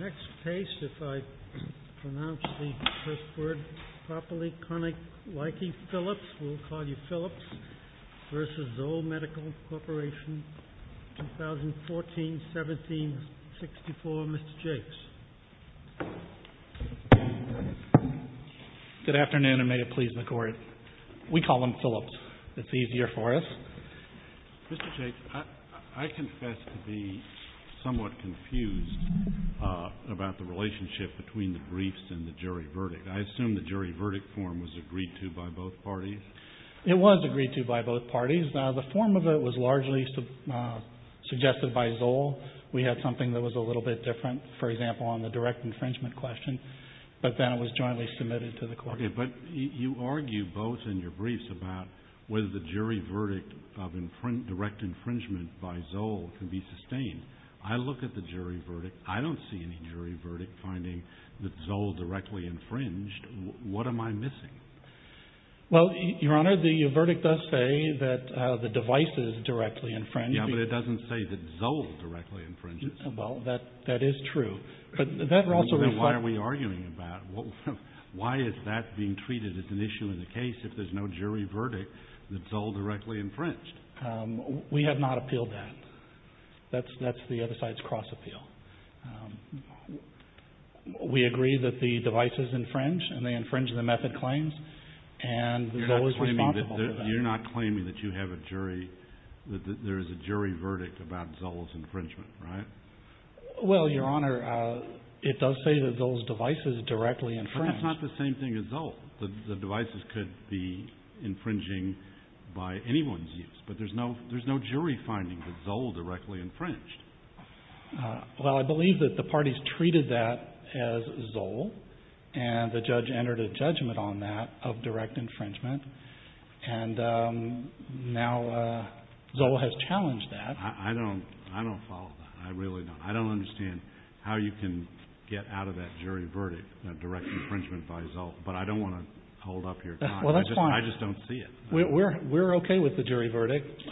Next case, if I pronounce the first word properly, Koninklijke Philips, we'll call you Philips v. Zoll Medical Corporation, 2014-17-64, Mr. Jakes. Good afternoon, and may it please the Court. We call him Philips. It's easier for us. Mr. Jakes, I confess to be somewhat confused about the relationship between the briefs and the jury verdict. I assume the jury verdict form was agreed to by both parties? It was agreed to by both parties. The form of it was largely suggested by Zoll. We had something that was a little bit different, for example, on the direct infringement question, but then it was jointly submitted to the Court. Okay, but you argue both in your briefs about whether the jury verdict of direct infringement by Zoll can be sustained. I look at the jury verdict. I don't see any jury verdict finding that Zoll directly infringed. What am I missing? Well, Your Honor, the verdict does say that the device is directly infringed. Yeah, but it doesn't say that Zoll directly infringes. Well, that is true. Then why are we arguing about it? Why is that being treated as an issue in the case if there's no jury verdict that Zoll directly infringed? We have not appealed that. That's the other side's cross-appeal. We agree that the device is infringed, and they infringe the method claims, and Zoll is responsible for that. You're not claiming that you have a jury, that there is a jury verdict about Zoll's infringement, right? Well, Your Honor, it does say that Zoll's device is directly infringed. But that's not the same thing as Zoll. The devices could be infringing by anyone's use, but there's no jury finding that Zoll directly infringed. Well, I believe that the parties treated that as Zoll, and the judge entered a judgment on that of direct infringement, and now Zoll has challenged that. I don't follow that. I really don't. I don't understand how you can get out of that jury verdict, direct infringement by Zoll, but I don't want to hold up your time. I just don't see it. We're okay with the jury verdict,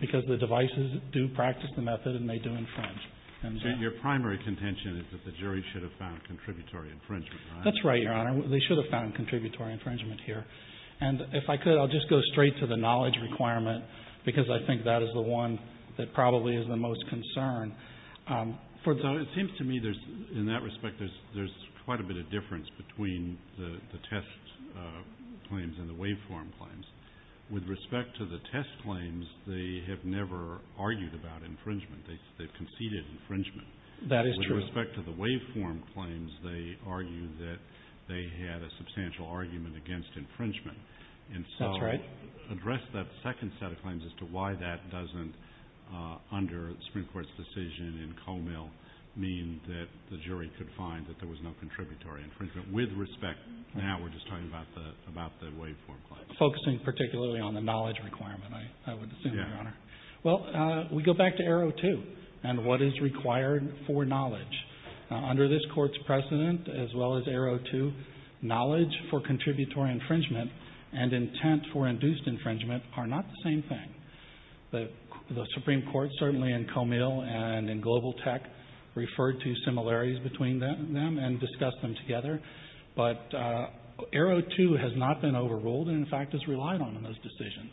because the devices do practice the method, and they do infringe. So your primary contention is that the jury should have found contributory infringement, right? That's right, Your Honor. They should have found contributory infringement here. And if I could, I'll just go straight to the knowledge requirement, because I think that is the one that probably is the most concern. It seems to me, in that respect, there's quite a bit of difference between the test claims and the waveform claims. With respect to the test claims, they have never argued about infringement. They've conceded infringement. That is true. With respect to the waveform claims, they argue that they had a substantial argument against infringement. And so address that second set of claims as to why that doesn't, under the Supreme Court's decision in Comell, mean that the jury could find that there was no contributory infringement. With respect, now we're just talking about the waveform claims. Focusing particularly on the knowledge requirement, I would assume, Your Honor. Well, we go back to Arrow 2 and what is required for knowledge. Under this Court's precedent, as well as Arrow 2, knowledge for contributory infringement and intent for induced infringement are not the same thing. The Supreme Court, certainly in Comell and in Global Tech, referred to similarities between them and discussed them together. But Arrow 2 has not been overruled and, in fact, has relied on those decisions.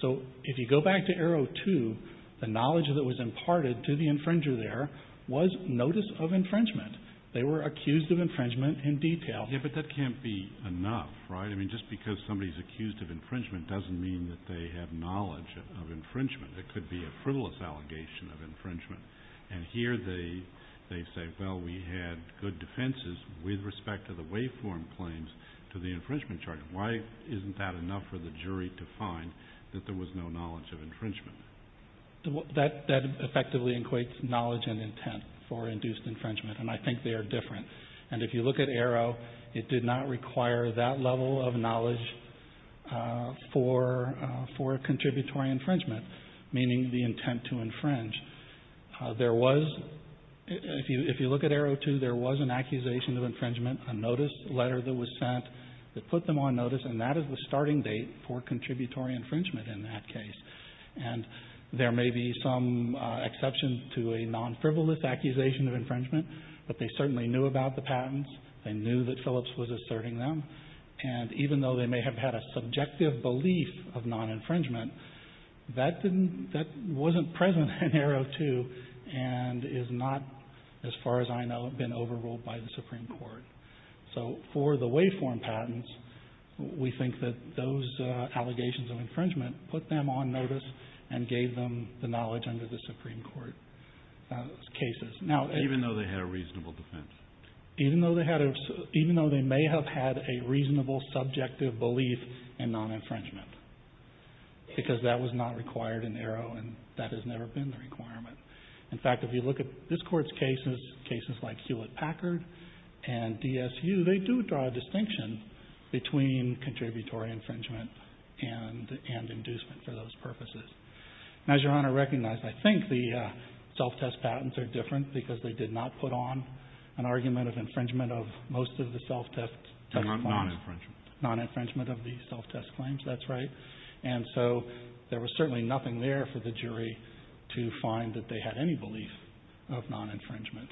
So if you go back to Arrow 2, the knowledge that was imparted to the infringer there was notice of infringement. They were accused of infringement in detail. Yeah, but that can't be enough, right? I mean, just because somebody's accused of infringement doesn't mean that they have knowledge of infringement. It could be a frivolous allegation of infringement. And here they say, well, we had good defenses with respect to the waveform claims to the infringement charge. Why isn't that enough for the jury to find that there was no knowledge of infringement? That effectively equates knowledge and intent for induced infringement, and I think they are different. And if you look at Arrow, it did not require that level of knowledge for contributory infringement, meaning the intent to infringe. There was, if you look at Arrow 2, there was an accusation of infringement, a notice letter that was sent that put them on notice, and that is the starting date for contributory infringement in that case. And there may be some exceptions to a non-frivolous accusation of infringement, but they certainly knew about the patents. They knew that Phillips was asserting them. And even though they may have had a subjective belief of non-infringement, that wasn't present in Arrow 2 and is not, as far as I know, been overruled by the Supreme Court. So for the waveform patents, we think that those allegations of infringement put them on notice and gave them the knowledge under the Supreme Court cases. Even though they had a reasonable defense? Even though they may have had a reasonable subjective belief in non-infringement, because that was not required in Arrow and that has never been the requirement. In fact, if you look at this Court's cases, cases like Hewlett-Packard and DSU, they do draw a distinction between contributory infringement and inducement for those purposes. As Your Honor recognized, I think the self-test patents are different because they did not put on an argument of infringement of most of the self-test claims. Non-infringement of the self-test claims, that's right. And so there was certainly nothing there for the jury to find that they had any belief of non-infringement.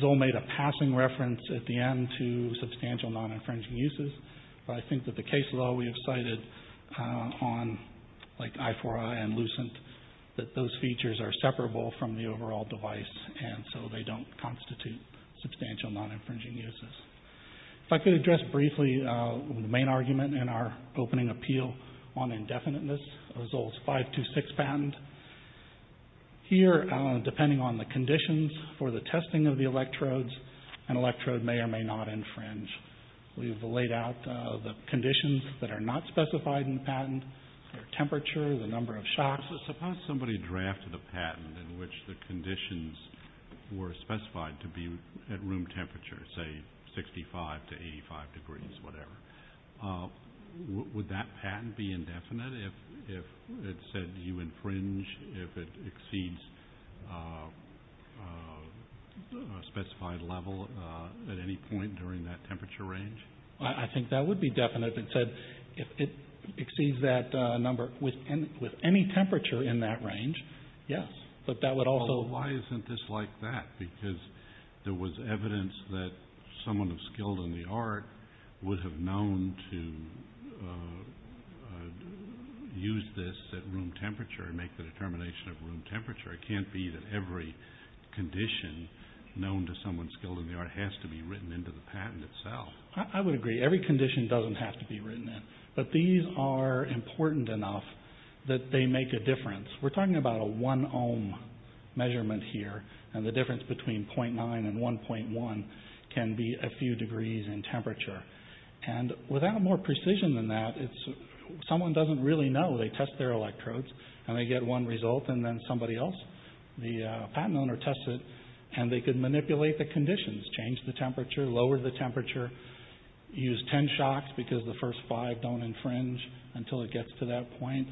Zoll made a passing reference at the end to substantial non-infringing uses. But I think that the case law we have cited on like I-4I and Lucent, that those features are separable from the overall device and so they don't constitute substantial non-infringing uses. If I could address briefly the main argument in our opening appeal on indefiniteness of Zoll's 526 patent. Here, depending on the conditions for the testing of the electrodes, an electrode may or may not infringe. We've laid out the conditions that are not specified in the patent, their temperature, the number of shocks. Suppose somebody drafted a patent in which the conditions were specified to be at room temperature, say 65 to 85 degrees, whatever. Would that patent be indefinite if it said you infringe, if it exceeds a specified level at any point during that temperature range? I think that would be definite if it said it exceeds that number with any temperature in that range, yes. But that would also... Why isn't this like that? Because there was evidence that someone of skill in the art would have known to use this at room temperature and make the determination of room temperature. It can't be that every condition known to someone skilled in the art has to be written into the patent itself. I would agree. Every condition doesn't have to be written in. But these are important enough that they make a difference. We're talking about a 1 ohm measurement here, and the difference between 0.9 and 1.1 can be a few degrees in temperature. And without more precision than that, someone doesn't really know. They test their electrodes, and they get one result, and then somebody else, the patent owner, tests it. And they could manipulate the conditions, change the temperature, lower the temperature, use ten shocks because the first five don't infringe until it gets to that point.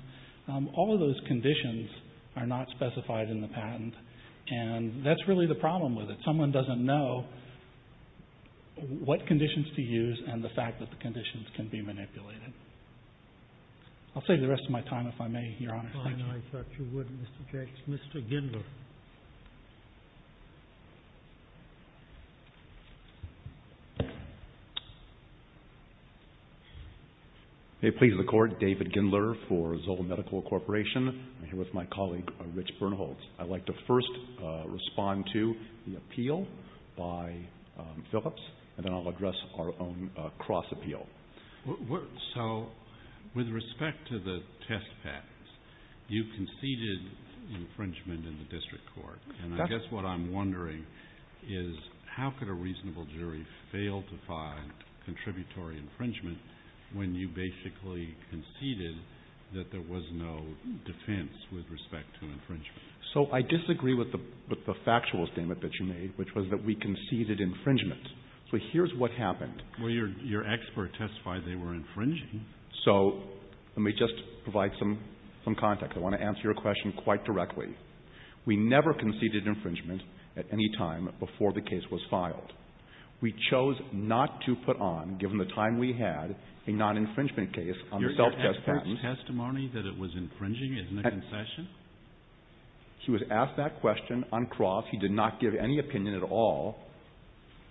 All of those conditions are not specified in the patent, and that's really the problem with it. Someone doesn't know what conditions to use and the fact that the conditions can be manipulated. I'll save the rest of my time if I may, Your Honor. Thank you. I thought you would, Mr. Jackson. Mr. Gindler. May it please the Court, David Gindler for Zola Medical Corporation. I'm here with my colleague, Rich Bernholtz. I'd like to first respond to the appeal by Phillips, and then I'll address our own cross appeal. So with respect to the test patents, you conceded infringement in the district court. And I guess what I'm wondering is how could a reasonable jury fail to find contributory infringement when you basically conceded that there was no defense with respect to infringement? So I disagree with the factual statement that you made, which was that we conceded infringement. So here's what happened. Well, your expert testified they were infringing. So let me just provide some context. I want to answer your question quite directly. We never conceded infringement at any time before the case was filed. We chose not to put on, given the time we had, a non-infringement case on the self-test patent. Your expert testimony that it was infringing is in the concession? He was asked that question on cross. He did not give any opinion at all,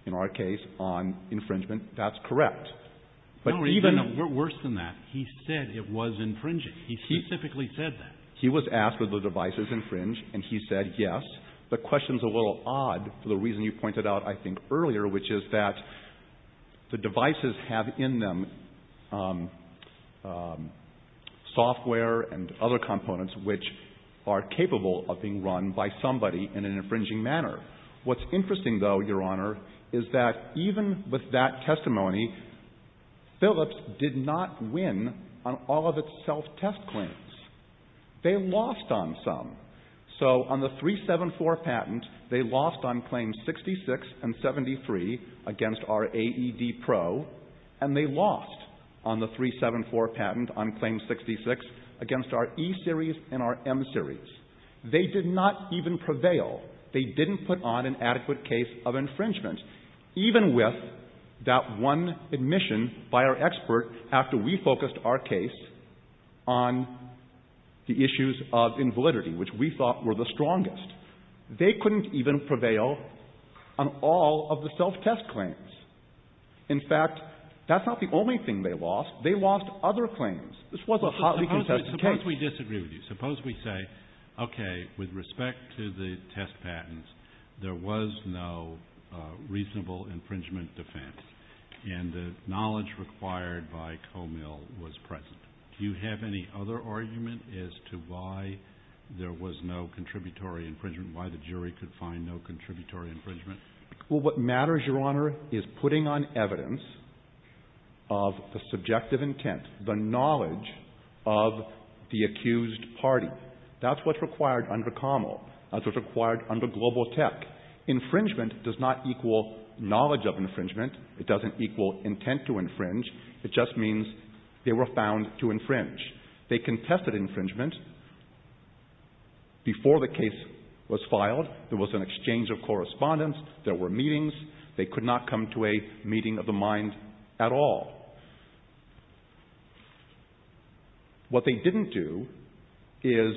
in our case, on infringement. That's correct. No, even worse than that. He said it was infringing. He specifically said that. He was asked would the devices infringe, and he said yes. The question's a little odd for the reason you pointed out, I think, earlier, which is that the devices have in them software and other components which are capable of being run by somebody in an infringing manner. What's interesting, though, your Honor, is that even with that testimony, Philips did not win on all of its self-test claims. They lost on some. So on the 374 patent, they lost on claims 66 and 73 against our AED Pro, and they lost on the 374 patent on claims 66 against our E-Series and our M-Series. They did not even prevail. They didn't put on an adequate case of infringement. Even with that one admission by our expert after we focused our case on the issues of invalidity, which we thought were the strongest, they couldn't even prevail on all of the self-test claims. In fact, that's not the only thing they lost. They lost other claims. Well, suppose we disagree with you. Suppose we say, okay, with respect to the test patents, there was no reasonable infringement defense, and the knowledge required by Comil was present. Do you have any other argument as to why there was no contributory infringement, why the jury could find no contributory infringement? Well, what matters, Your Honor, is putting on evidence of the subjective intent, the knowledge of the accused party. That's what's required under Comil. That's what's required under Global Tech. Infringement does not equal knowledge of infringement. It doesn't equal intent to infringe. It just means they were found to infringe. They contested infringement before the case was filed. There was an exchange of correspondence. There were meetings. They could not come to a meeting of the mind at all. What they didn't do is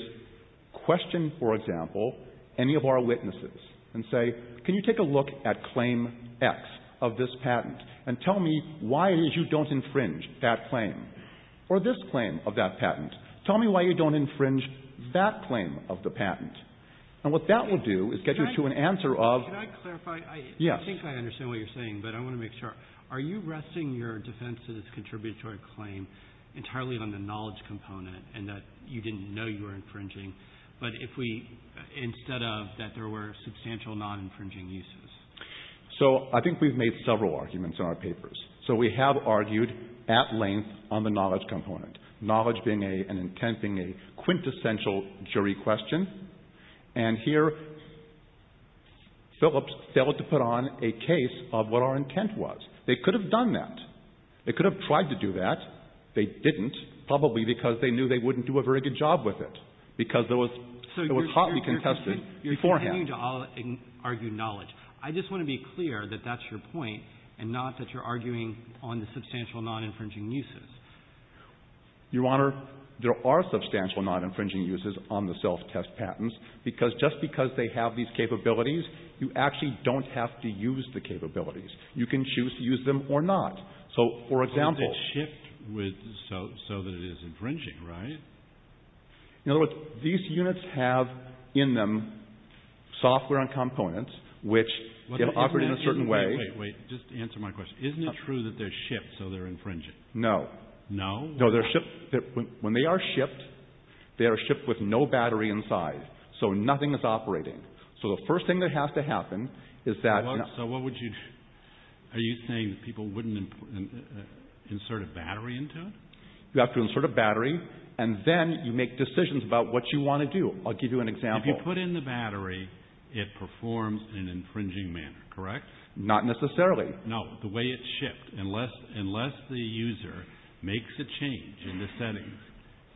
question, for example, any of our witnesses and say, can you take a look at claim X of this patent and tell me why it is you don't infringe that claim or this claim of that patent? Tell me why you don't infringe that claim of the patent. And what that will do is get you to an answer of – Could I clarify? Yes. I think I understand what you're saying, but I want to make sure. Are you resting your defense of this contributory claim entirely on the knowledge component and that you didn't know you were infringing, but if we – instead of that there were substantial non-infringing uses? So I think we've made several arguments in our papers. So we have argued at length on the knowledge component, knowledge being an intent, being a quintessential jury question. And here Phillips failed to put on a case of what our intent was. They could have done that. They could have tried to do that. They didn't, probably because they knew they wouldn't do a very good job with it, because it was hotly contested beforehand. You're continuing to argue knowledge. I just want to be clear that that's your point and not that you're arguing on the substantial non-infringing uses. Your Honor, there are substantial non-infringing uses on the self-test patents, because just because they have these capabilities, you actually don't have to use the capabilities. You can choose to use them or not. So, for example – But it's a shift with – so that it is infringing, right? In other words, these units have in them software and components, which if operated in a certain way – Wait, wait, wait. Just answer my question. Isn't it true that they're shipped, so they're infringing? No. No? No, they're shipped – when they are shipped, they are shipped with no battery inside, so nothing is operating. So the first thing that has to happen is that – So what would you – are you saying that people wouldn't insert a battery into it? You have to insert a battery, and then you make decisions about what you want to do. I'll give you an example. If you put in the battery, it performs in an infringing manner, correct? Not necessarily. No, the way it's shipped. Unless the user makes a change in the settings,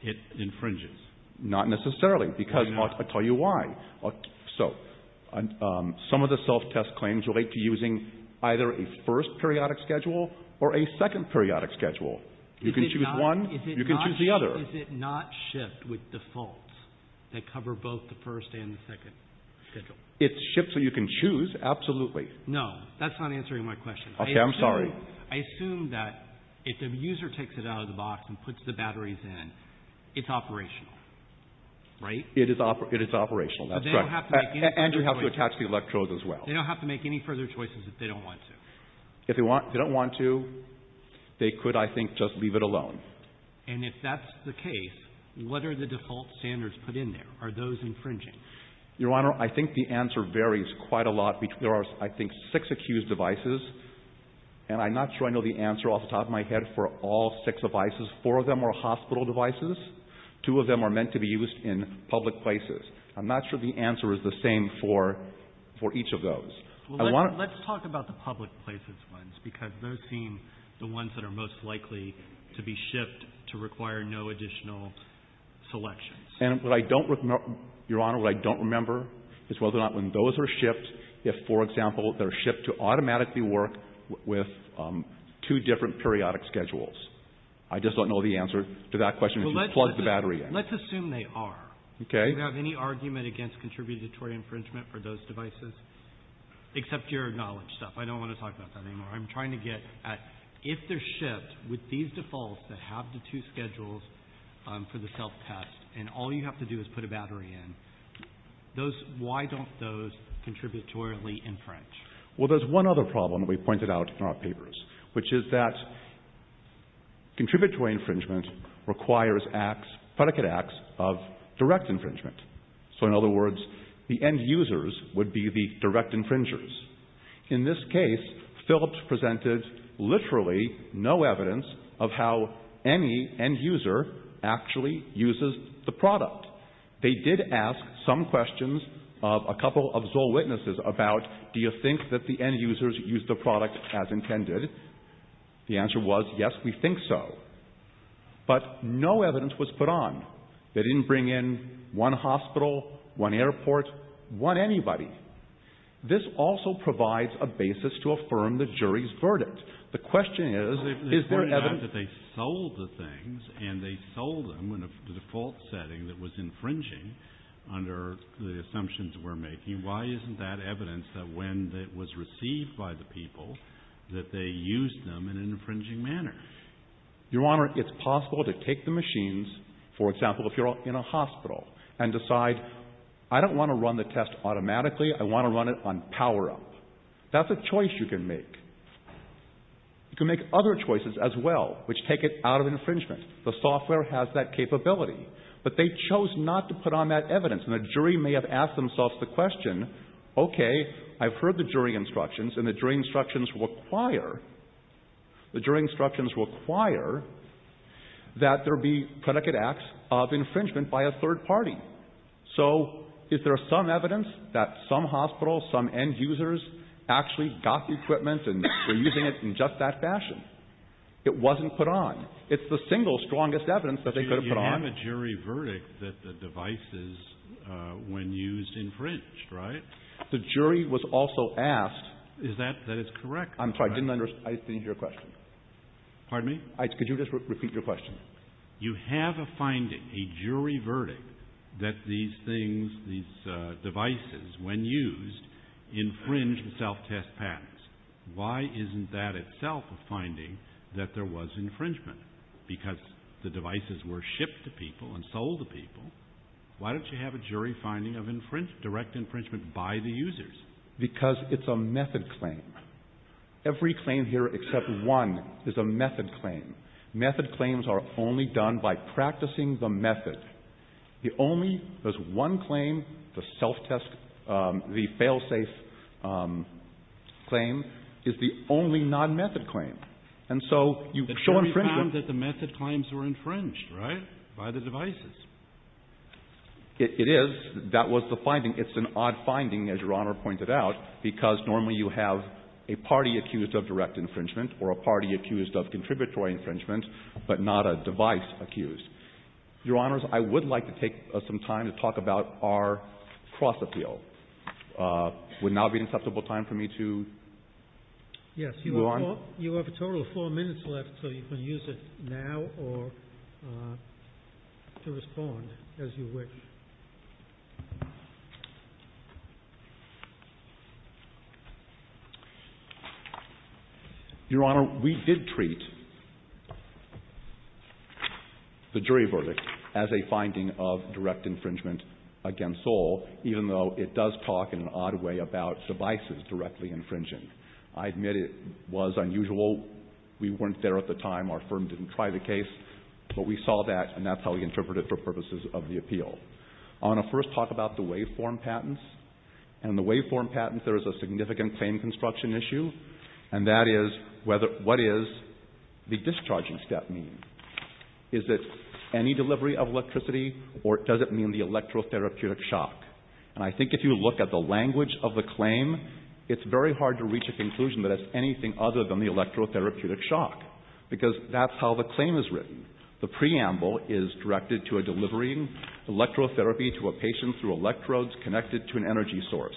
it infringes. Not necessarily, because I'll tell you why. So, some of the self-test claims relate to using either a first periodic schedule or a second periodic schedule. You can choose one, you can choose the other. Is it not shipped with defaults that cover both the first and the second schedule? It's shipped so you can choose, absolutely. No, that's not answering my question. Okay, I'm sorry. I assume that if the user takes it out of the box and puts the batteries in, it's operational, right? It is operational, that's correct. But they don't have to make any further choices. And you have to attach the electrodes as well. They don't have to make any further choices if they don't want to. If they don't want to, they could, I think, just leave it alone. And if that's the case, what are the default standards put in there? Are those infringing? Your Honor, I think the answer varies quite a lot. There are, I think, six accused devices, and I'm not sure I know the answer off the top of my head for all six devices. Four of them are hospital devices. Two of them are meant to be used in public places. I'm not sure the answer is the same for each of those. Well, let's talk about the public places ones, because those seem the ones that are most likely to be shipped to require no additional selections. And what I don't remember, Your Honor, what I don't remember is whether or not when those are shipped, if, for example, they're shipped to automatically work with two different periodic schedules. I just don't know the answer to that question if you plug the battery in. Let's assume they are. Okay. Do you have any argument against contributory infringement for those devices? Except your knowledge stuff. I don't want to talk about that anymore. I'm trying to get at if they're shipped with these defaults that have the two schedules for the self-test, and all you have to do is put a battery in, those, why don't those contributory infringe? Well, there's one other problem that we pointed out in our papers, which is that contributory infringement requires acts, predicate acts, of direct infringement. So, in other words, the end users would be the direct infringers. In this case, Phillips presented literally no evidence of how any end user actually uses the product. They did ask some questions of a couple of Zoll witnesses about do you think that the end users use the product as intended. The answer was yes, we think so. But no evidence was put on. They didn't bring in one hospital, one airport, one anybody. This also provides a basis to affirm the jury's verdict. The question is, is there evidence? They pointed out that they sold the things, and they sold them in a default setting that was infringing under the assumptions we're making. Why isn't that evidence that when it was received by the people that they used them in an infringing manner? Your Honor, it's possible to take the machines, for example, if you're in a hospital, and decide I don't want to run the test automatically. I want to run it on power up. That's a choice you can make. You can make other choices as well, which take it out of infringement. The software has that capability. But they chose not to put on that evidence, and the jury may have asked themselves the question, okay, I've heard the jury instructions, and the jury instructions require, the jury instructions require that there be predicate acts of infringement by a third party. So is there some evidence that some hospitals, some end users actually got the equipment and were using it in just that fashion? It wasn't put on. It's the single strongest evidence that they could have put on. You have a jury verdict that the devices, when used, infringed, right? The jury was also asked. Is that correct? I'm sorry, I didn't understand your question. Pardon me? Could you just repeat your question? You have a finding, a jury verdict, that these things, these devices, when used, infringed self-test patents. Why isn't that itself a finding that there was infringement? Because the devices were shipped to people and sold to people. Why don't you have a jury finding of direct infringement by the users? Because it's a method claim. Every claim here except one is a method claim. Method claims are only done by practicing the method. The only, there's one claim, the self-test, the fail-safe claim, is the only non-method claim. And so you show infringement. The jury found that the method claims were infringed, right, by the devices. It is. That was the finding. It's an odd finding, as Your Honor pointed out, because normally you have a party accused of direct infringement or a party accused of contributory infringement but not a device accused. Your Honors, I would like to take some time to talk about our cross-appeal. Would now be an acceptable time for me to move on? Your Honor, you have a total of four minutes left, so you can use it now or to respond as you wish. Your Honor, we did treat the jury verdict as a finding of direct infringement against all, even though it does talk in an odd way about devices directly infringing. I admit it was unusual. We weren't there at the time. Our firm didn't try the case. But we saw that, and that's how we interpreted it for purposes of the appeal. I want to first talk about the waveform patents. And in the waveform patents, there is a significant claim construction issue, and that is what does the discharging step mean? Is it any delivery of electricity, or does it mean the electro-therapeutic shock? And I think if you look at the language of the claim, it's very hard to reach a conclusion that it's anything other than the electro-therapeutic shock, because that's how the claim is written. The preamble is directed to a delivering electro-therapy to a patient through electrodes connected to an energy source.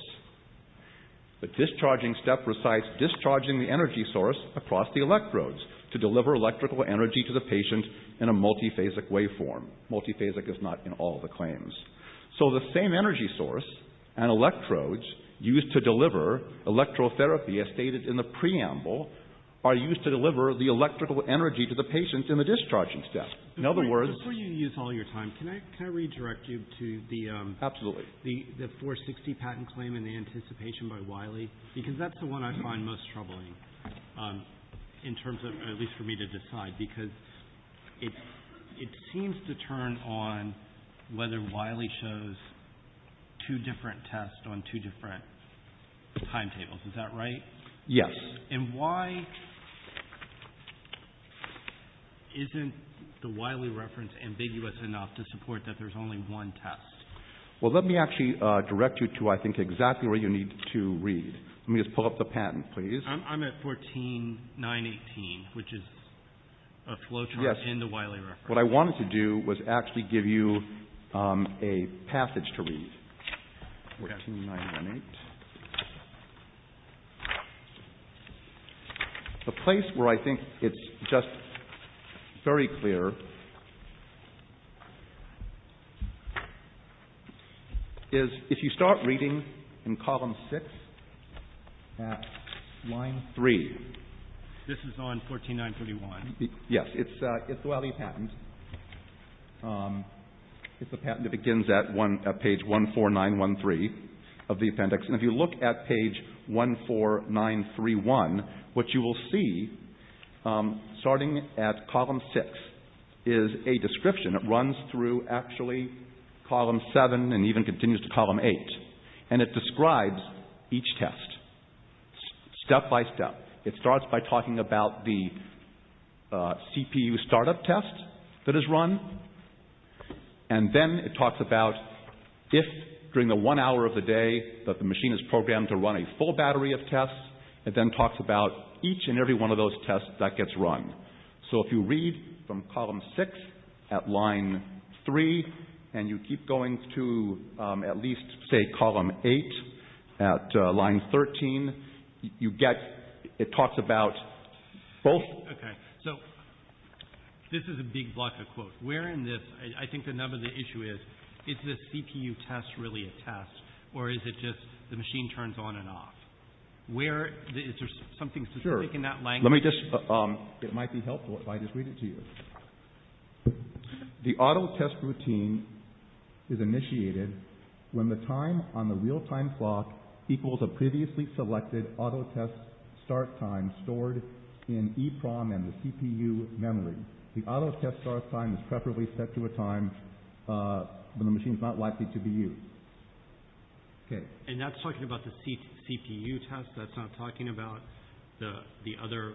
The discharging step recites discharging the energy source across the electrodes to deliver electrical energy to the patient in a multi-phasic waveform. Multi-phasic is not in all the claims. So the same energy source and electrodes used to deliver electro-therapy as stated in the preamble are used to deliver the electrical energy to the patient in the discharging step. In other words- Before you use all your time, can I redirect you to the- Absolutely. The 460 patent claim and the anticipation by Wiley? Because that's the one I find most troubling in terms of, at least for me to decide, because it seems to turn on whether Wiley shows two different tests on two different timetables. Is that right? Yes. And why isn't the Wiley reference ambiguous enough to support that there's only one test? Well, let me actually direct you to, I think, exactly where you need to read. Let me just pull up the patent, please. I'm at 14.918, which is a flow chart in the Wiley reference. What I wanted to do was actually give you a passage to read. Okay. 14.918. The place where I think it's just very clear is if you start reading in column 6 at line 3- This is on 14.941. Yes. It's the Wiley patent. It's a patent that begins at page 14913 of the appendix. And if you look at page 14931, what you will see, starting at column 6, is a description. It runs through, actually, column 7 and even continues to column 8. And it describes each test, step by step. It starts by talking about the CPU startup test that is run. And then it talks about if, during the one hour of the day that the machine is programmed to run a full battery of tests, it then talks about each and every one of those tests that gets run. So if you read from column 6 at line 3 and you keep going to at least, say, column 8 at line 13, you get- It talks about both- Okay. So this is a big block of quotes. Where in this- I think the number of the issue is, is this CPU test really a test or is it just the machine turns on and off? Is there something specific in that language? Sure. Let me just- It might be helpful if I just read it to you. The auto test routine is initiated when the time on the real time clock equals a previously selected auto test start time stored in EEPROM and the CPU memory. The auto test start time is preferably set to a time when the machine is not likely to be used. Okay. And that's talking about the CPU test? That's not talking about the other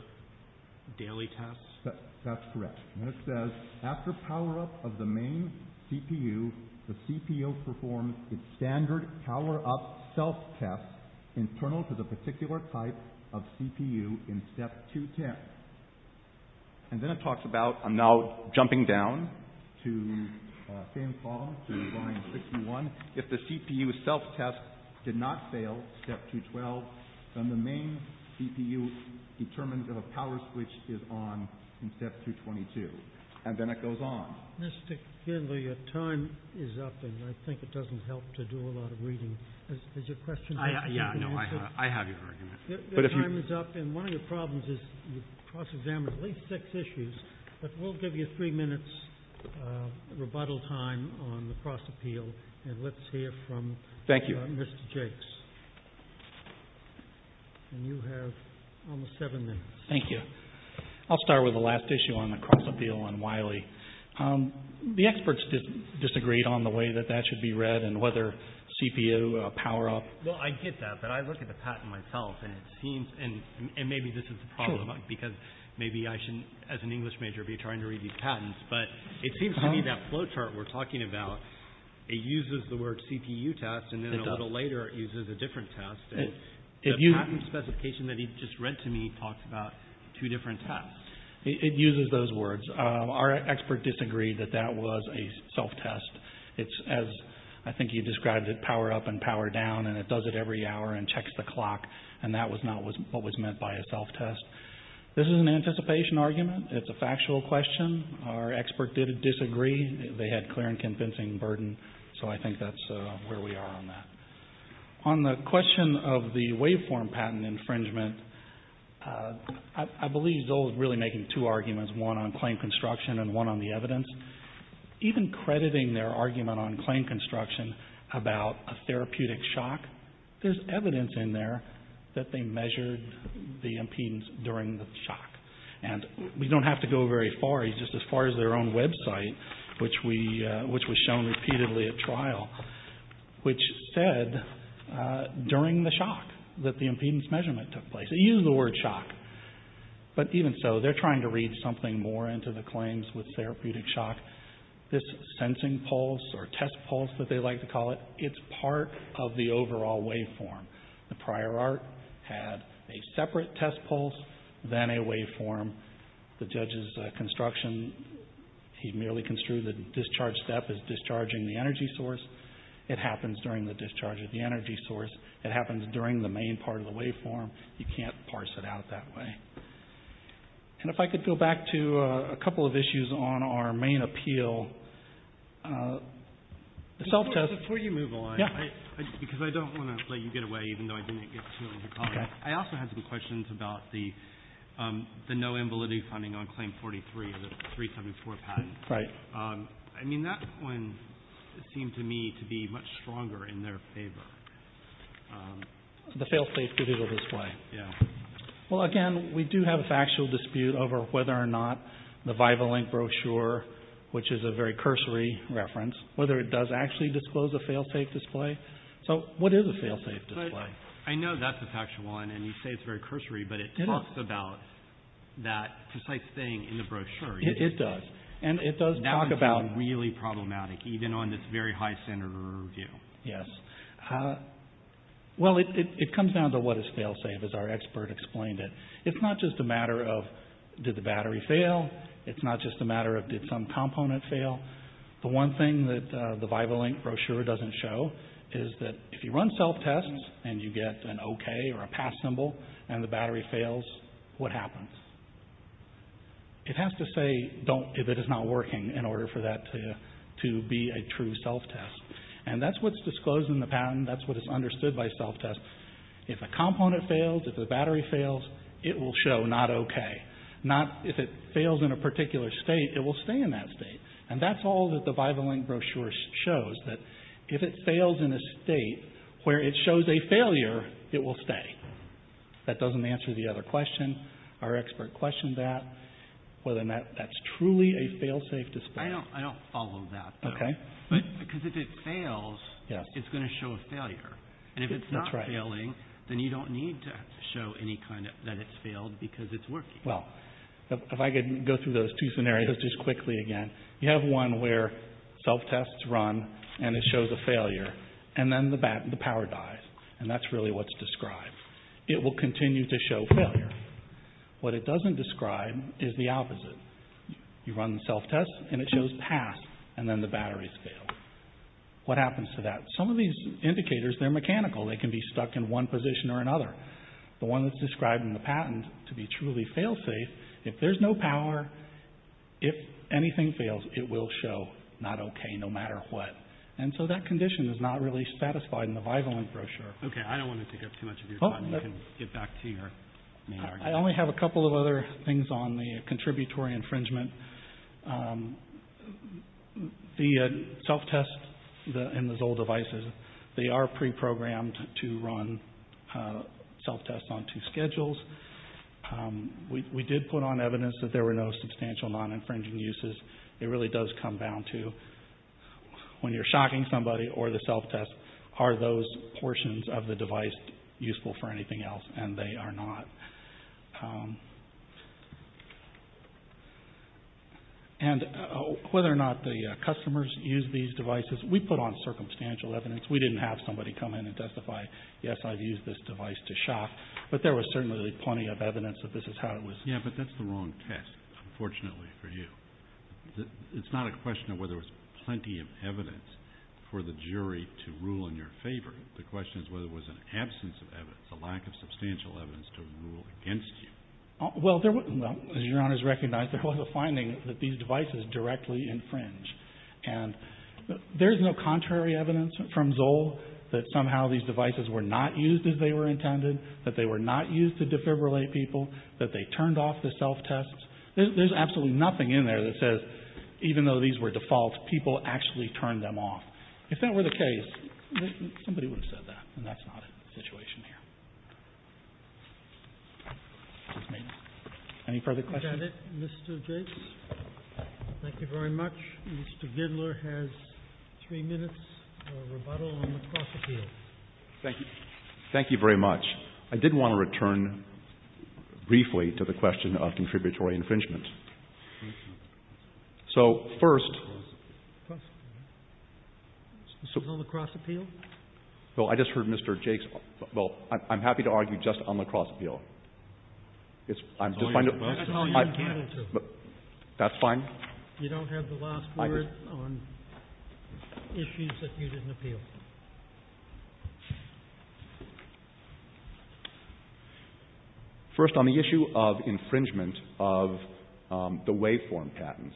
daily tests? That's correct. And it says, after power up of the main CPU, the CPU performs its standard power up self test internal to the particular type of CPU in step 210. And then it talks about- I'm now jumping down to same column to line 61. If the CPU self test did not fail step 212, then the main CPU determines that a power switch is on in step 222. And then it goes on. Mr. Kindler, your time is up and I think it doesn't help to do a lot of reading. Is your question- Yeah, no, I have your argument. Your time is up and one of your problems is you cross examined at least six issues. But we'll give you three minutes rebuttal time on the cross appeal and let's hear from- Thank you. Mr. Jakes. And you have almost seven minutes. Thank you. I'll start with the last issue on the cross appeal on Wiley. The experts disagreed on the way that that should be read and whether CPU power up- Well, I get that, but I look at the patent myself and it seems- And maybe this is the problem because maybe I shouldn't, as an English major, be trying to read these patents. But it seems to me that flowchart we're talking about, it uses the word CPU test and then a little later it uses a different test. And the patent specification that he just read to me talks about two different tests. It uses those words. Our expert disagreed that that was a self test. It's, as I think you described it, power up and power down and it does it every hour and checks the clock. And that was not what was meant by a self test. This is an anticipation argument. It's a factual question. Our expert did disagree. They had clear and convincing burden. So I think that's where we are on that. On the question of the waveform patent infringement, I believe they'll really make two arguments. One on claim construction and one on the evidence. Even crediting their argument on claim construction about a therapeutic shock, there's evidence in there that they measured the impedance during the shock. And we don't have to go very far. It's just as far as their own website, which was shown repeatedly at trial, which said during the shock that the impedance measurement took place. They used the word shock. But even so, they're trying to read something more into the claims with therapeutic shock. This sensing pulse or test pulse that they like to call it, it's part of the overall waveform. The prior art had a separate test pulse than a waveform. The judge's construction, he merely construed the discharge step as discharging the energy source. It happens during the discharge of the energy source. It happens during the main part of the waveform. You can't parse it out that way. And if I could go back to a couple of issues on our main appeal, the self-test. Before you move on, because I don't want to let you get away, even though I didn't get to your comment, I also had some questions about the no ambiguity funding on claim 43 of the 374 patent. Right. I mean, that one seemed to me to be much stronger in their favor. The fail-safe digital display. Yeah. Well, again, we do have a factual dispute over whether or not the Vivalink brochure, which is a very cursory reference, whether it does actually disclose a fail-safe display. So what is a fail-safe display? I know that's a factual one, and you say it's very cursory, but it talks about that precise thing in the brochure. It does. And it does talk about— That would be really problematic, even on this very high standard of review. Yes. Well, it comes down to what is fail-safe, as our expert explained it. It's not just a matter of did the battery fail. It's not just a matter of did some component fail. The one thing that the Vivalink brochure doesn't show is that if you run self-tests, and you get an okay or a pass symbol, and the battery fails, what happens? It has to say if it is not working in order for that to be a true self-test. And that's what's disclosed in the patent. That's what is understood by self-test. If a component fails, if the battery fails, it will show not okay. Not if it fails in a particular state, it will stay in that state. And that's all that the Vivalink brochure shows, that if it fails in a state where it shows a failure, it will stay. That doesn't answer the other question. Our expert questioned that, whether or not that's truly a fail-safe display. I don't follow that. Okay. Because if it fails, it's going to show a failure. And if it's not failing, then you don't need to show any kind of that it's failed because it's working. Well, if I could go through those two scenarios just quickly again. You have one where self-tests run, and it shows a failure, and then the power dies. And that's really what's described. It will continue to show failure. What it doesn't describe is the opposite. You run the self-test, and it shows pass, and then the batteries fail. What happens to that? Some of these indicators, they're mechanical. They can be stuck in one position or another. The one that's described in the patent to be truly fail-safe, if there's no power, if anything fails, it will show not okay no matter what. And so that condition is not really satisfied in the Vivalink brochure. Okay. I don't want to take up too much of your time. You can get back to your main argument. I only have a couple of other things on the contributory infringement. The self-test in those old devices, they are pre-programmed to run self-tests on two schedules. We did put on evidence that there were no substantial non-infringing uses. It really does come down to when you're shocking somebody or the self-test, are those portions of the device useful for anything else, and they are not. And whether or not the customers use these devices, we put on circumstantial evidence. We didn't have somebody come in and testify, yes, I've used this device to shock, but there was certainly plenty of evidence that this is how it was. Yeah, but that's the wrong test, unfortunately, for you. It's not a question of whether there was plenty of evidence for the jury to rule in your favor. The question is whether there was an absence of evidence, a lack of substantial evidence to rule against you. Well, as Your Honors recognize, there was a finding that these devices directly infringe. And there's no contrary evidence from Zoll that somehow these devices were not used as they were intended, that they were not used to defibrillate people, that they turned off the self-tests. There's absolutely nothing in there that says even though these were default, people actually turned them off. If that were the case, somebody would have said that, and that's not the situation here. Any further questions? We've got it, Mr. Jase. Thank you very much. Mr. Gidler has three minutes for rebuttal on the cross-appeal. Thank you. Thank you very much. I did want to return briefly to the question of contributory infringement. So, first. This is on the cross-appeal? Well, I just heard Mr. Jase. Well, I'm happy to argue just on the cross-appeal. That's all you're entitled to. That's fine? You don't have the last word on issues that you didn't appeal. Thank you. First, on the issue of infringement of the waveform patents.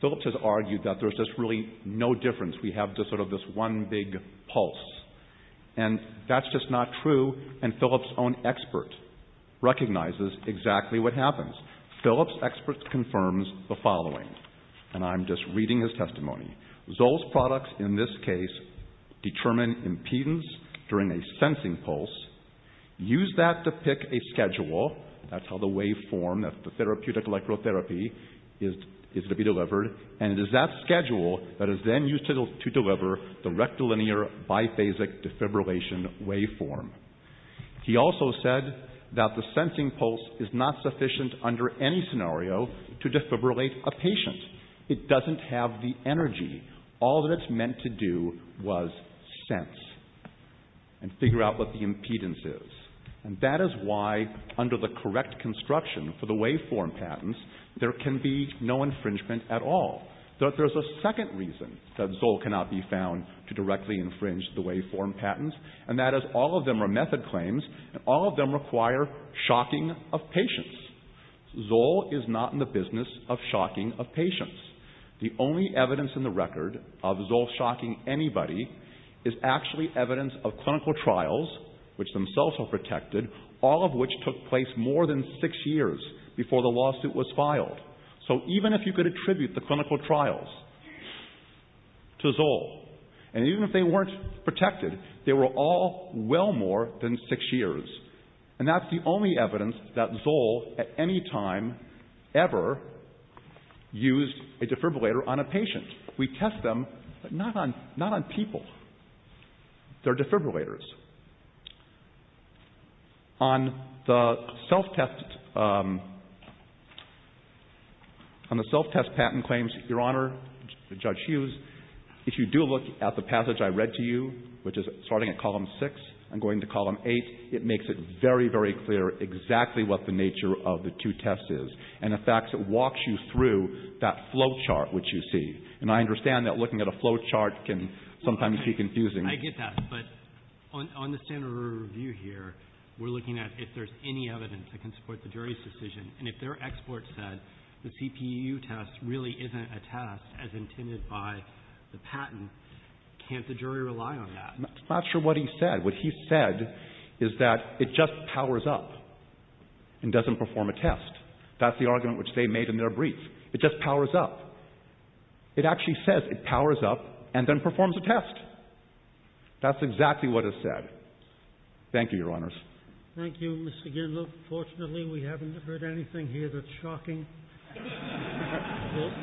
Phillips has argued that there's just really no difference. We have just sort of this one big pulse, and that's just not true, and Phillips' own expert recognizes exactly what happens. Phillips' expert confirms the following, and I'm just reading his testimony. Zoll's products, in this case, determine impedance during a sensing pulse, use that to pick a schedule, that's how the waveform, the therapeutic electrotherapy is to be delivered, and it is that schedule that is then used to deliver the rectilinear biphasic defibrillation waveform. He also said that the sensing pulse is not sufficient under any scenario to defibrillate a patient. It doesn't have the energy. All that it's meant to do was sense and figure out what the impedance is. And that is why, under the correct construction for the waveform patents, there can be no infringement at all. There's a second reason that Zoll cannot be found to directly infringe the waveform patents, and that is all of them are method claims, and all of them require shocking of patients. Zoll is not in the business of shocking of patients. The only evidence in the record of Zoll shocking anybody is actually evidence of clinical trials, which themselves are protected, all of which took place more than six years before the lawsuit was filed. So even if you could attribute the clinical trials to Zoll, and even if they weren't protected, they were all well more than six years, and that's the only evidence that Zoll, at any time, ever used a defibrillator on a patient. We test them, but not on people. They're defibrillators. On the self-test patent claims, Your Honor, Judge Hughes, if you do look at the passage I read to you, which is starting at column six and going to column eight, it makes it very, very clear exactly what the nature of the two tests is, and in fact, it walks you through that flowchart, which you see, and I understand that looking at a flowchart can sometimes be confusing. I get that, but on the standard review here, we're looking at if there's any evidence that can support the jury's decision, and if their export said the CPU test really isn't a test as intended by the patent, can't the jury rely on that? I'm not sure what he said. What he said is that it just powers up and doesn't perform a test. That's the argument which they made in their brief. It just powers up. It actually says it powers up and then performs a test. That's exactly what it said. Thank you, Your Honors. Thank you, Mr. Gindler. Fortunately, we haven't heard anything here that's shocking. Thank you.